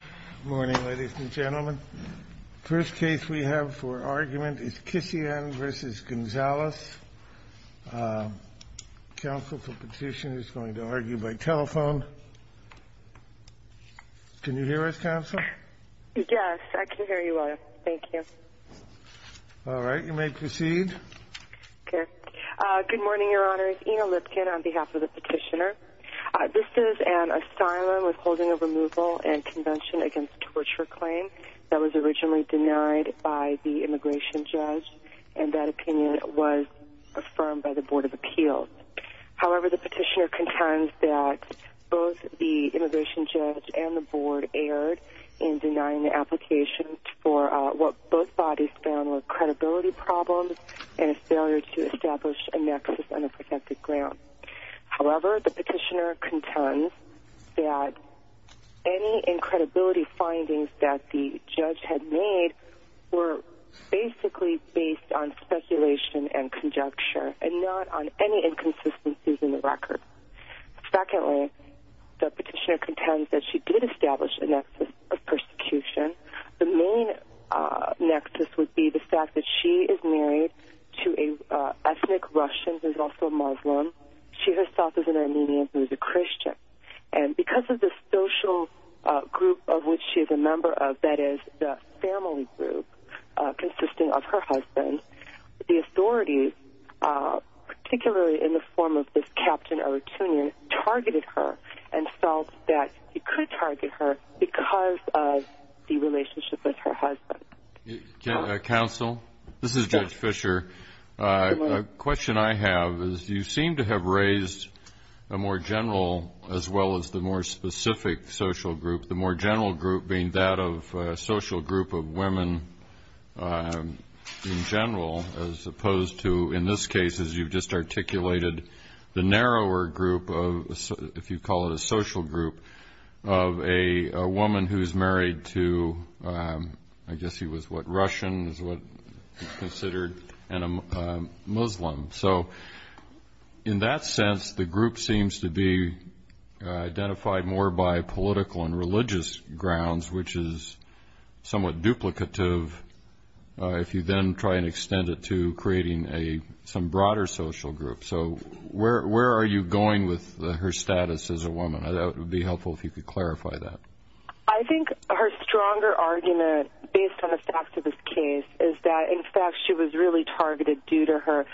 Good morning ladies and gentlemen. The first case we have for argument is Kisiyan v. Gonzales. The counsel for petition is going to argue by telephone. Can you hear us, counsel? Yes, I can hear you well. Thank you. All right, you may proceed. Good morning, Your Honor. It's Ina Lipkin on behalf of the petitioner. This is an asylum withholding of removal and convention against torture claim that was originally denied by the immigration judge and that opinion was affirmed by the Board of Appeals. However, the petitioner contends that both the immigration judge and the board erred in denying the application for what both bodies found were credibility problems and a failure to establish a nexus on a protected ground. However, the petitioner contends that any incredibility findings that the judge had made were basically based on speculation and conjecture and not on any inconsistencies in the record. Secondly, the petitioner contends that she did establish a nexus of persecution. The main nexus would be the fact that she is married to an ethnic Russian who is also Muslim. She herself is an Armenian who is a Christian. And because of the social group of which she is a member of, that is, the family group consisting of her husband, the authorities, particularly in the form of this Captain Eratunian, targeted her and felt that it could target her because of the relationship with her husband. Counsel, this is Judge Fisher. A question I have is you seem to have raised a more general as well as the more specific social group, the more general group being that of a social group of women in general as opposed to, in this case, as you've just articulated, the narrower group of, if you call it a social group, of a woman who is married to, I guess he was what, Russian is what he considered, and a Muslim. So in that sense, the group seems to be identified more by political and religious grounds, which is somewhat duplicative if you then try and extend it to creating some broader social group. So where are you going with her status as a woman? That would be helpful if you could clarify that. I think her stronger argument, based on the facts of this case, is that, in fact, she was really targeted due to her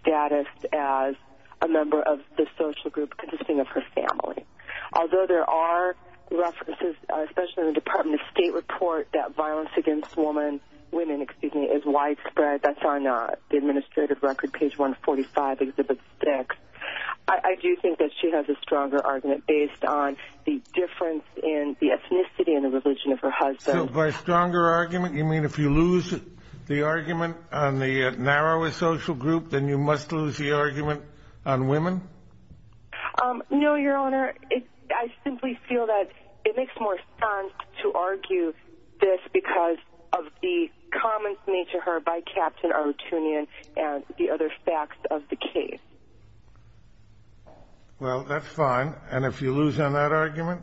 status as a member of the social group consisting of her family. Although there are references, especially in the Department of State report, that violence against women is widespread. That's on the administrative record, page 145, exhibit 6. I do think that she has a stronger argument based on the difference in the ethnicity and the religion of her husband. So by stronger argument, you mean if you lose the argument on the narrower social group, then you must lose the argument on women? No, Your Honor. I simply feel that it makes more sense to argue this because of the comments made to her by Captain Arutunian and the other facts of the case. Well, that's fine. And if you lose on that argument?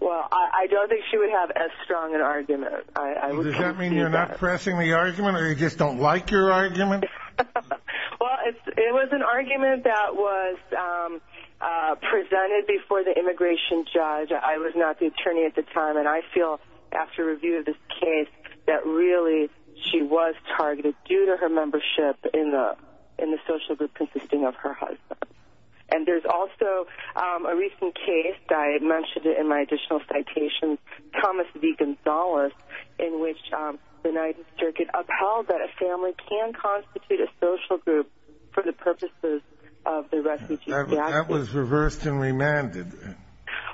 Well, I don't think she would have as strong an argument. Does that mean you're not pressing the argument or you just don't like your argument? Well, it was an argument that was presented before the immigration judge. I was not the attorney at the time, and I feel after review of this case that really she was targeted due to her membership in the social group consisting of her husband. And there's also a recent case that I mentioned in my additional citation, Thomas V. Gonzales, in which the United Circuit upheld that a family can constitute a social group for the purposes of the refugee gap. That was reversed and remanded.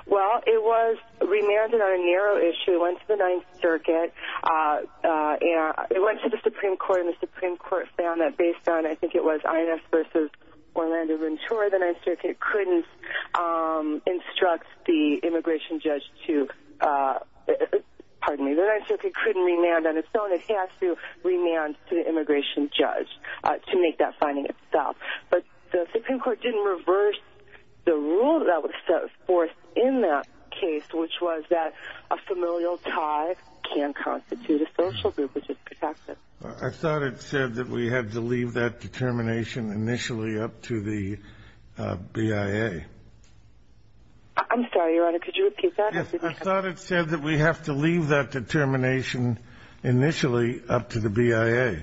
Well, it was remanded on a narrow issue. It went to the Ninth Circuit. It went to the Supreme Court, and the Supreme Court found that based on, I think it was Ines v. Orlando Ventura, the Ninth Circuit couldn't instruct the immigration judge to—pardon me, the Ninth Circuit couldn't remand on its own. It had to remand to the immigration judge to make that finding itself. But the Supreme Court didn't reverse the rule that was set forth in that case, which was that a familial tie can constitute a social group which is protected. I thought it said that we had to leave that determination initially up to the BIA. I'm sorry, Your Honor. Could you repeat that? Yes, I thought it said that we have to leave that determination initially up to the BIA,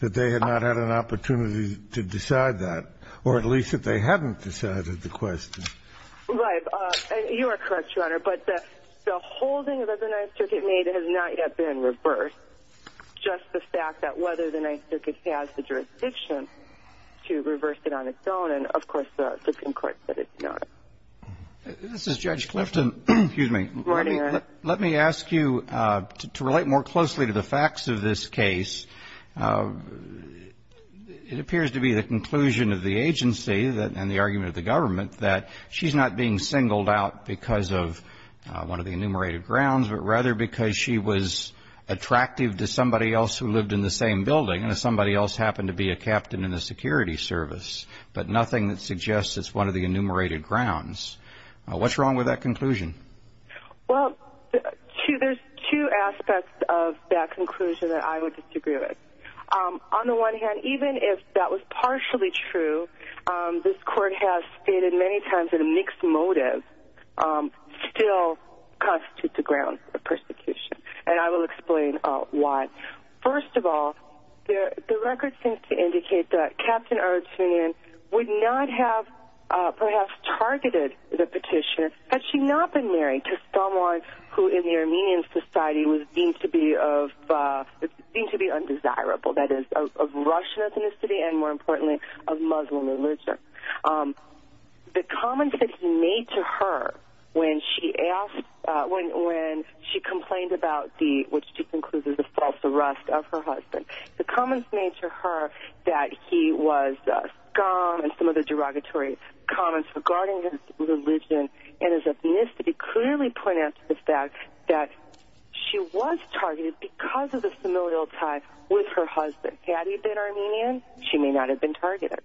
that they had not had an opportunity to decide that, or at least that they hadn't decided the question. Right. You are correct, Your Honor. But the holding that the Ninth Circuit made has not yet been reversed, just the fact that whether the Ninth Circuit has the jurisdiction to reverse it on its own. And, of course, the Supreme Court said it's not. This is Judge Clifton. Excuse me. Good morning, Your Honor. Let me ask you, to relate more closely to the facts of this case, it appears to be the conclusion of the agency and the argument of the government that she's not being singled out because of one of the enumerated grounds, but rather because she was attractive to somebody else who lived in the same building and somebody else happened to be a captain in the security service, but nothing that suggests it's one of the enumerated grounds. What's wrong with that conclusion? Well, there's two aspects of that conclusion that I would disagree with. On the one hand, even if that was partially true, this Court has stated many times that a mixed motive still constitutes a ground for persecution, and I will explain why. First of all, the record seems to indicate that Captain Erdstein would not have perhaps targeted the petitioner had she not been married to someone who in the Armenian society was deemed to be undesirable, that is, of Russian ethnicity and, more importantly, of Muslim religion. The comments that he made to her when she complained about the false arrest of her husband, the comments made to her that he was scum and some of the derogatory comments regarding his religion and his ethnicity clearly point out to the fact that she was targeted because of the familial tie with her husband. Had he been Armenian, she may not have been targeted.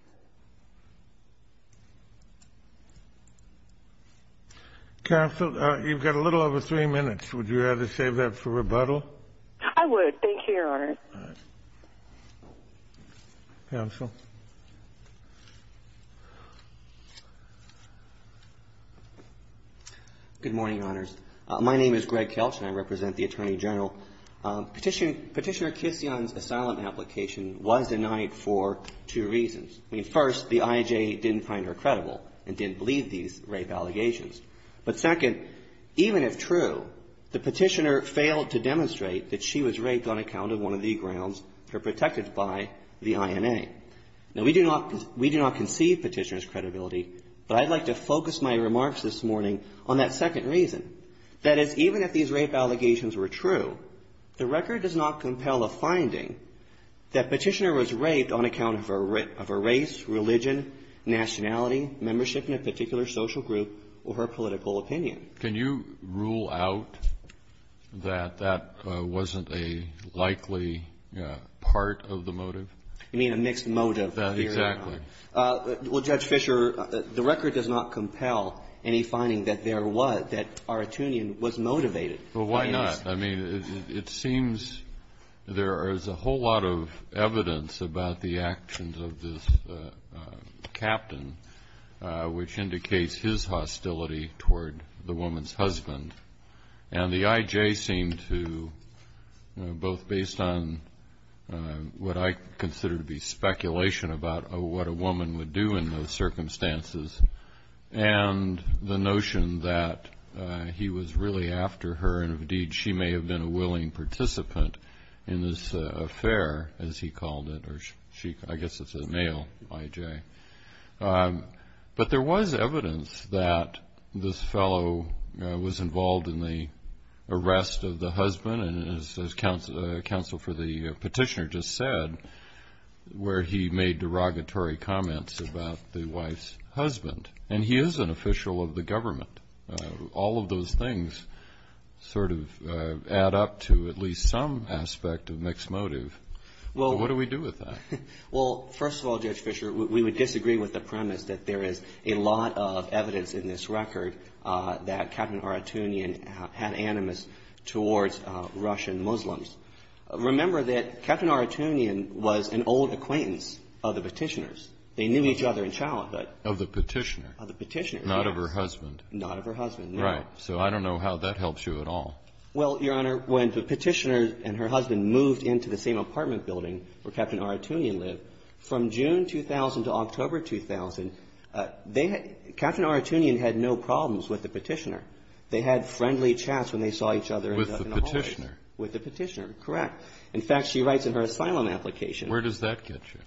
Counsel, you've got a little over three minutes. Would you rather save that for rebuttal? I would. Thank you, Your Honor. Counsel. Good morning, Your Honors. My name is Greg Kelch, and I represent the Attorney General. Petitioner Kisyon's asylum application was denied for two reasons. First, the IJA didn't find her credible and didn't believe these rape allegations. But second, even if true, the petitioner failed to demonstrate that she was raped on account of one of the grounds that are protected by the INA. Now, we do not conceive petitioner's credibility, but I'd like to focus my remarks this morning on that second reason. That is, even if these rape allegations were true, the record does not compel a finding that petitioner was raped on account of a race, religion, nationality, membership in a particular social group, or her political opinion. Can you rule out that that wasn't a likely part of the motive? You mean a mixed motive? Exactly. Well, Judge Fischer, the record does not compel any finding that there was, that Artunian was motivated. Well, why not? I mean, it seems there is a whole lot of evidence about the actions of this captain, which indicates his hostility toward the woman's husband. And the IJA seemed to, both based on what I consider to be speculation about what a woman would do in those circumstances, and the notion that he was really after her, and indeed she may have been a willing participant in this affair, as he called it. I guess it's a male IJA. But there was evidence that this fellow was involved in the arrest of the husband, as counsel for the petitioner just said, where he made derogatory comments about the wife's husband. And he is an official of the government. All of those things sort of add up to at least some aspect of mixed motive. What do we do with that? Well, first of all, Judge Fischer, we would disagree with the premise that there is a lot of evidence in this record that Captain Aratunian had animus towards Russian Muslims. Remember that Captain Aratunian was an old acquaintance of the petitioners. They knew each other in childhood. Of the petitioner. Of the petitioner, yes. Not of her husband. Not of her husband, no. Right. So I don't know how that helps you at all. Well, Your Honor, when the petitioner and her husband moved into the same apartment building where Captain Aratunian lived, from June 2000 to October 2000, Captain Aratunian had no problems with the petitioner. They had friendly chats when they saw each other in the hallways. With the petitioner. With the petitioner, correct. In fact, she writes in her asylum application. Where does that get you?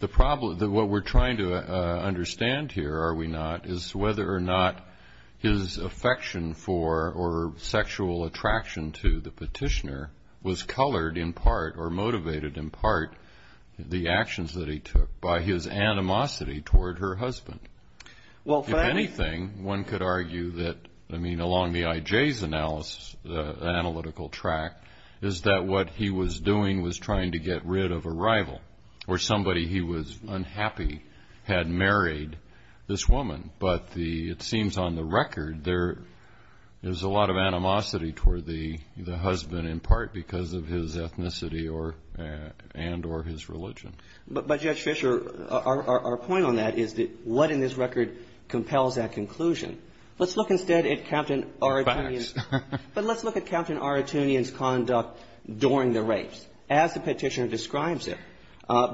The problem, what we're trying to understand here, are we not, is whether or not his affection for or sexual attraction to the petitioner was colored in part or motivated in part the actions that he took by his animosity toward her husband. If anything, one could argue that, I mean, along the IJ's analytical track, is that what he was doing was trying to get rid of a rival or somebody he was unhappy had married this woman. But the, it seems on the record, there's a lot of animosity toward the husband in part because of his ethnicity and or his religion. But, Judge Fischer, our point on that is that what in this record compels that conclusion? Let's look instead at Captain Aratunian. Facts. But let's look at Captain Aratunian's conduct during the rapes. As the petitioner describes it,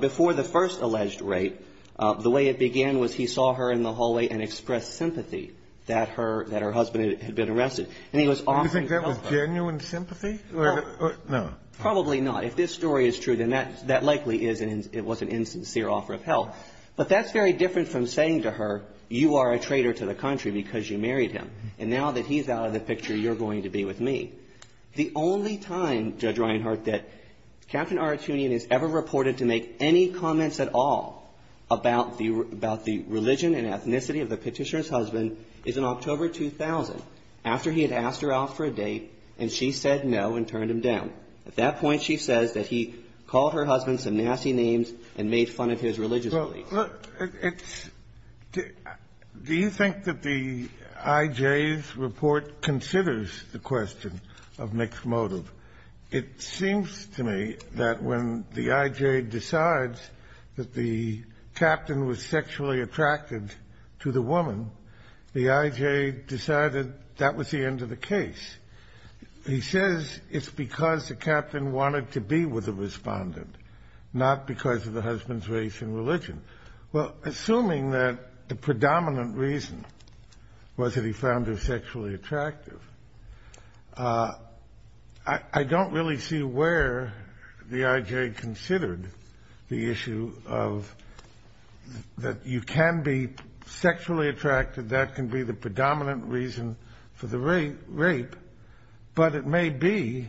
before the first alleged rape, the way it began was he saw her in the hallway and expressed sympathy that her, that her husband had been arrested. And he was offering help. Do you think that was genuine sympathy? No. No. Probably not. If this story is true, then that likely is, and it was an insincere offer of help. But that's very different from saying to her, you are a traitor to the country because you married him. And now that he's out of the picture, you're going to be with me. The only time, Judge Reinhart, that Captain Aratunian is ever reported to make any comments at all about the religion and ethnicity of the petitioner's husband is in October 2000, after he had asked her out for a date and she said no and turned him down. At that point, she says that he called her husband some nasty names and made fun of his religious beliefs. Do you think that the IJ's report considers the question of mixed motive? It seems to me that when the IJ decides that the captain was sexually attracted to the woman, the IJ decided that was the end of the case. He says it's because the captain wanted to be with the respondent, Well, assuming that the predominant reason was that he found her sexually attractive, I don't really see where the IJ considered the issue of that you can be sexually attracted, that can be the predominant reason for the rape. But it may be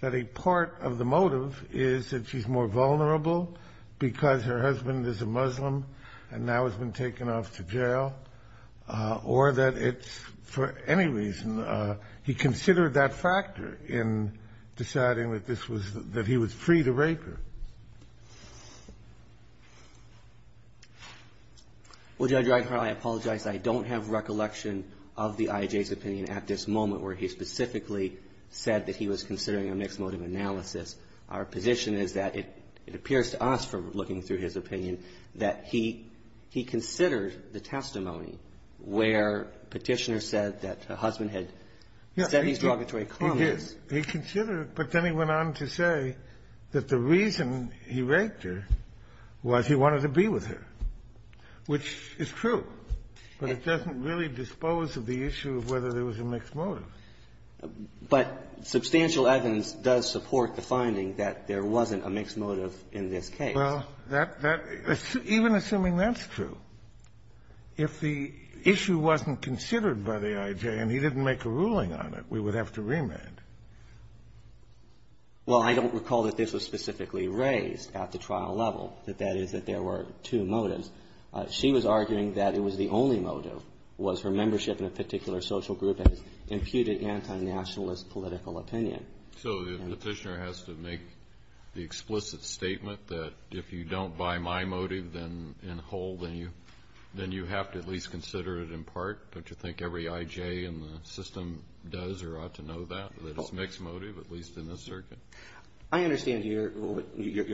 that a part of the motive is that she's more vulnerable because her husband is a Muslim and now has been taken off to jail, or that it's for any reason. He considered that factor in deciding that this was, that he was free to rape her. Well, Judge Reinhart, I apologize. I don't have recollection of the IJ's opinion at this moment where he specifically said that he was considering a mixed motive analysis. Our position is that it appears to us from looking through his opinion that he considered the testimony where Petitioner said that her husband had said these derogatory comments. He considered it, but then he went on to say that the reason he raped her was he wanted to be with her, which is true, but it doesn't really dispose of the issue of whether there was a mixed motive. But substantial evidence does support the finding that there wasn't a mixed motive in this case. Well, that's the issue. Even assuming that's true, if the issue wasn't considered by the IJ and he didn't make a ruling on it, we would have to remand. Well, I don't recall that this was specifically raised at the trial level, that that is, that there were two motives. She was arguing that it was the only motive was her membership in a particular social group and imputed anti-nationalist political opinion. So Petitioner has to make the explicit statement that if you don't buy my motive then in whole, then you have to at least consider it in part? Don't you think every IJ in the system does or ought to know that, that it's a mixed motive, at least in this circuit? I understand your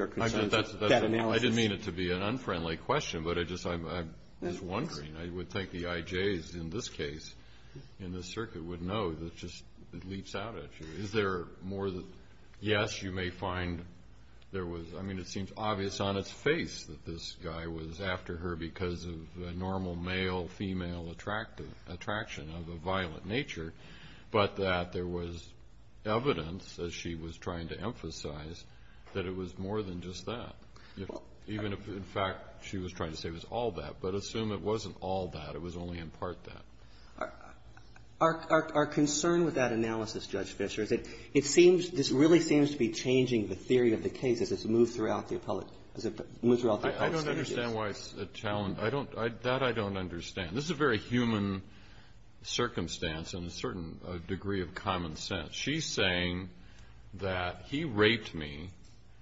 concerns. I didn't mean it to be an unfriendly question, but I just am wondering. I would think the IJs in this case, in this circuit, would know that it just leaps out at you. Is there more than, yes, you may find there was, I mean, it seems obvious on its face that this guy was after her because of a normal male-female attraction of a violent nature, but that there was evidence, as she was trying to emphasize, that it was more than just that. Even if, in fact, she was trying to say it was all that, but assume it wasn't all that, it was only in part that. Our concern with that analysis, Judge Fischer, is that it seems, this really seems to be changing the theory of the case as it's moved throughout the appellate as it moves throughout the appellate statutes. I don't understand why it's a challenge. That I don't understand. This is a very human circumstance in a certain degree of common sense. She's saying that he raped me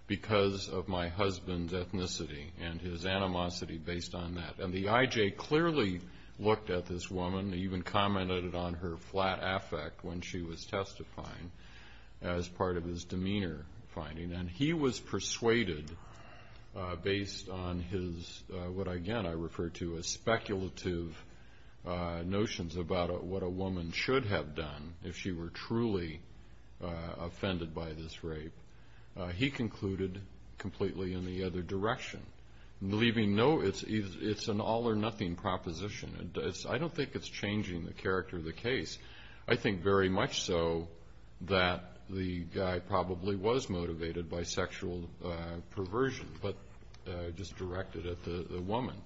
because of my husband's ethnicity and his animosity based on that. And the IJ clearly looked at this woman, even commented on her flat affect when she was testifying as part of his demeanor finding. And he was persuaded based on his, what, again, I refer to as speculative notions about what a woman should have done if she were truly offended by this rape. He concluded completely in the other direction, leaving no, it's an all or nothing proposition. I don't think it's changing the character of the case. I think very much so that the guy probably was motivated by sexual perversion, but just directed at the woman.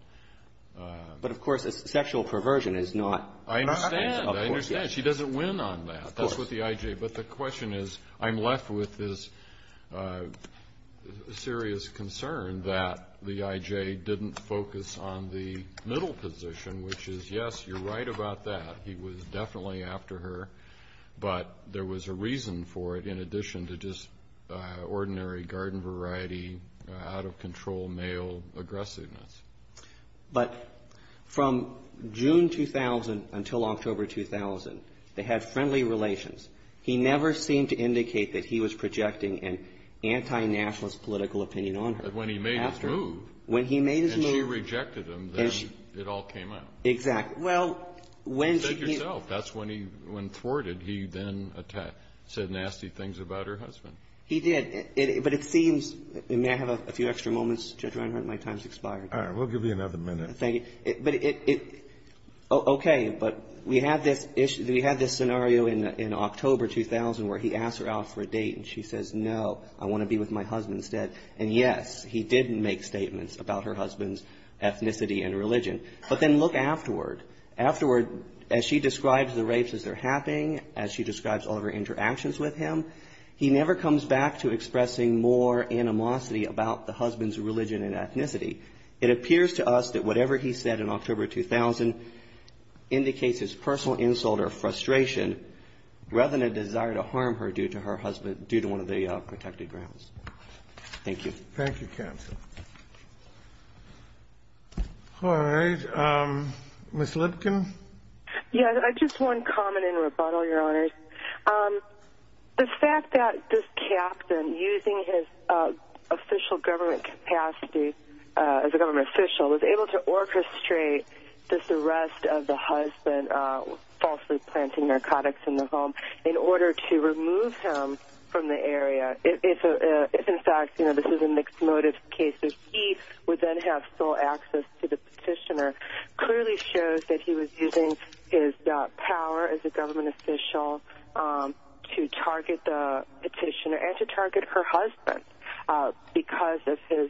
But, of course, sexual perversion is not. I understand. I understand. She doesn't win on that. That's what the IJ. But the question is, I'm left with this serious concern that the IJ didn't focus on the middle position, which is, yes, you're right about that. He was definitely after her, but there was a reason for it in addition to just ordinary garden variety, out of control male aggressiveness. But from June 2000 until October 2000, they had friendly relations. He never seemed to indicate that he was projecting an anti-nationalist political opinion on her. But when he made his move, and she rejected him, then it all came out. Exactly. Well, when she he You said yourself that's when he, when thwarted, he then said nasty things about her husband. He did, but it seems, and may I have a few extra moments, Judge Reinhardt? My time's expired. All right. We'll give you another minute. Thank you. But it, okay, but we had this scenario in October 2000 where he asked her out for a date, and she says, no, I want to be with my husband instead. And yes, he did make statements about her husband's ethnicity and religion. But then look afterward. Afterward, as she describes the rapes as they're happening, as she describes all of her interactions with him, he never comes back to expressing more animosity about the issue of her husband's ethnicity. It appears to us that whatever he said in October 2000 indicates his personal insult or frustration, rather than a desire to harm her due to her husband, due to one of the protected grounds. Thank you. Thank you, counsel. All right. Ms. Lipkin? Yes. I just want to comment in rebuttal, Your Honors. The fact that this captain, using his official government capacity as a government official, was able to orchestrate this arrest of the husband, falsely planting narcotics in the home, in order to remove him from the area, if in fact this is a mixed motive case, that he would then have full access to the petitioner, clearly shows that he was using his power as a government official to target the petitioner and to target her husband because of his,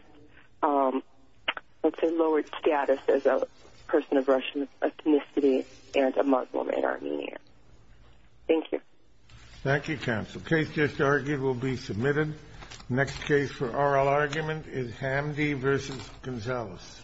let's say, lowered status as a person of Russian ethnicity and a Muslim in Armenia. Thank you. Thank you, counsel. The case just argued will be submitted. The next case for oral argument is Hamdi v. Gonzalez.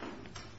Thank you.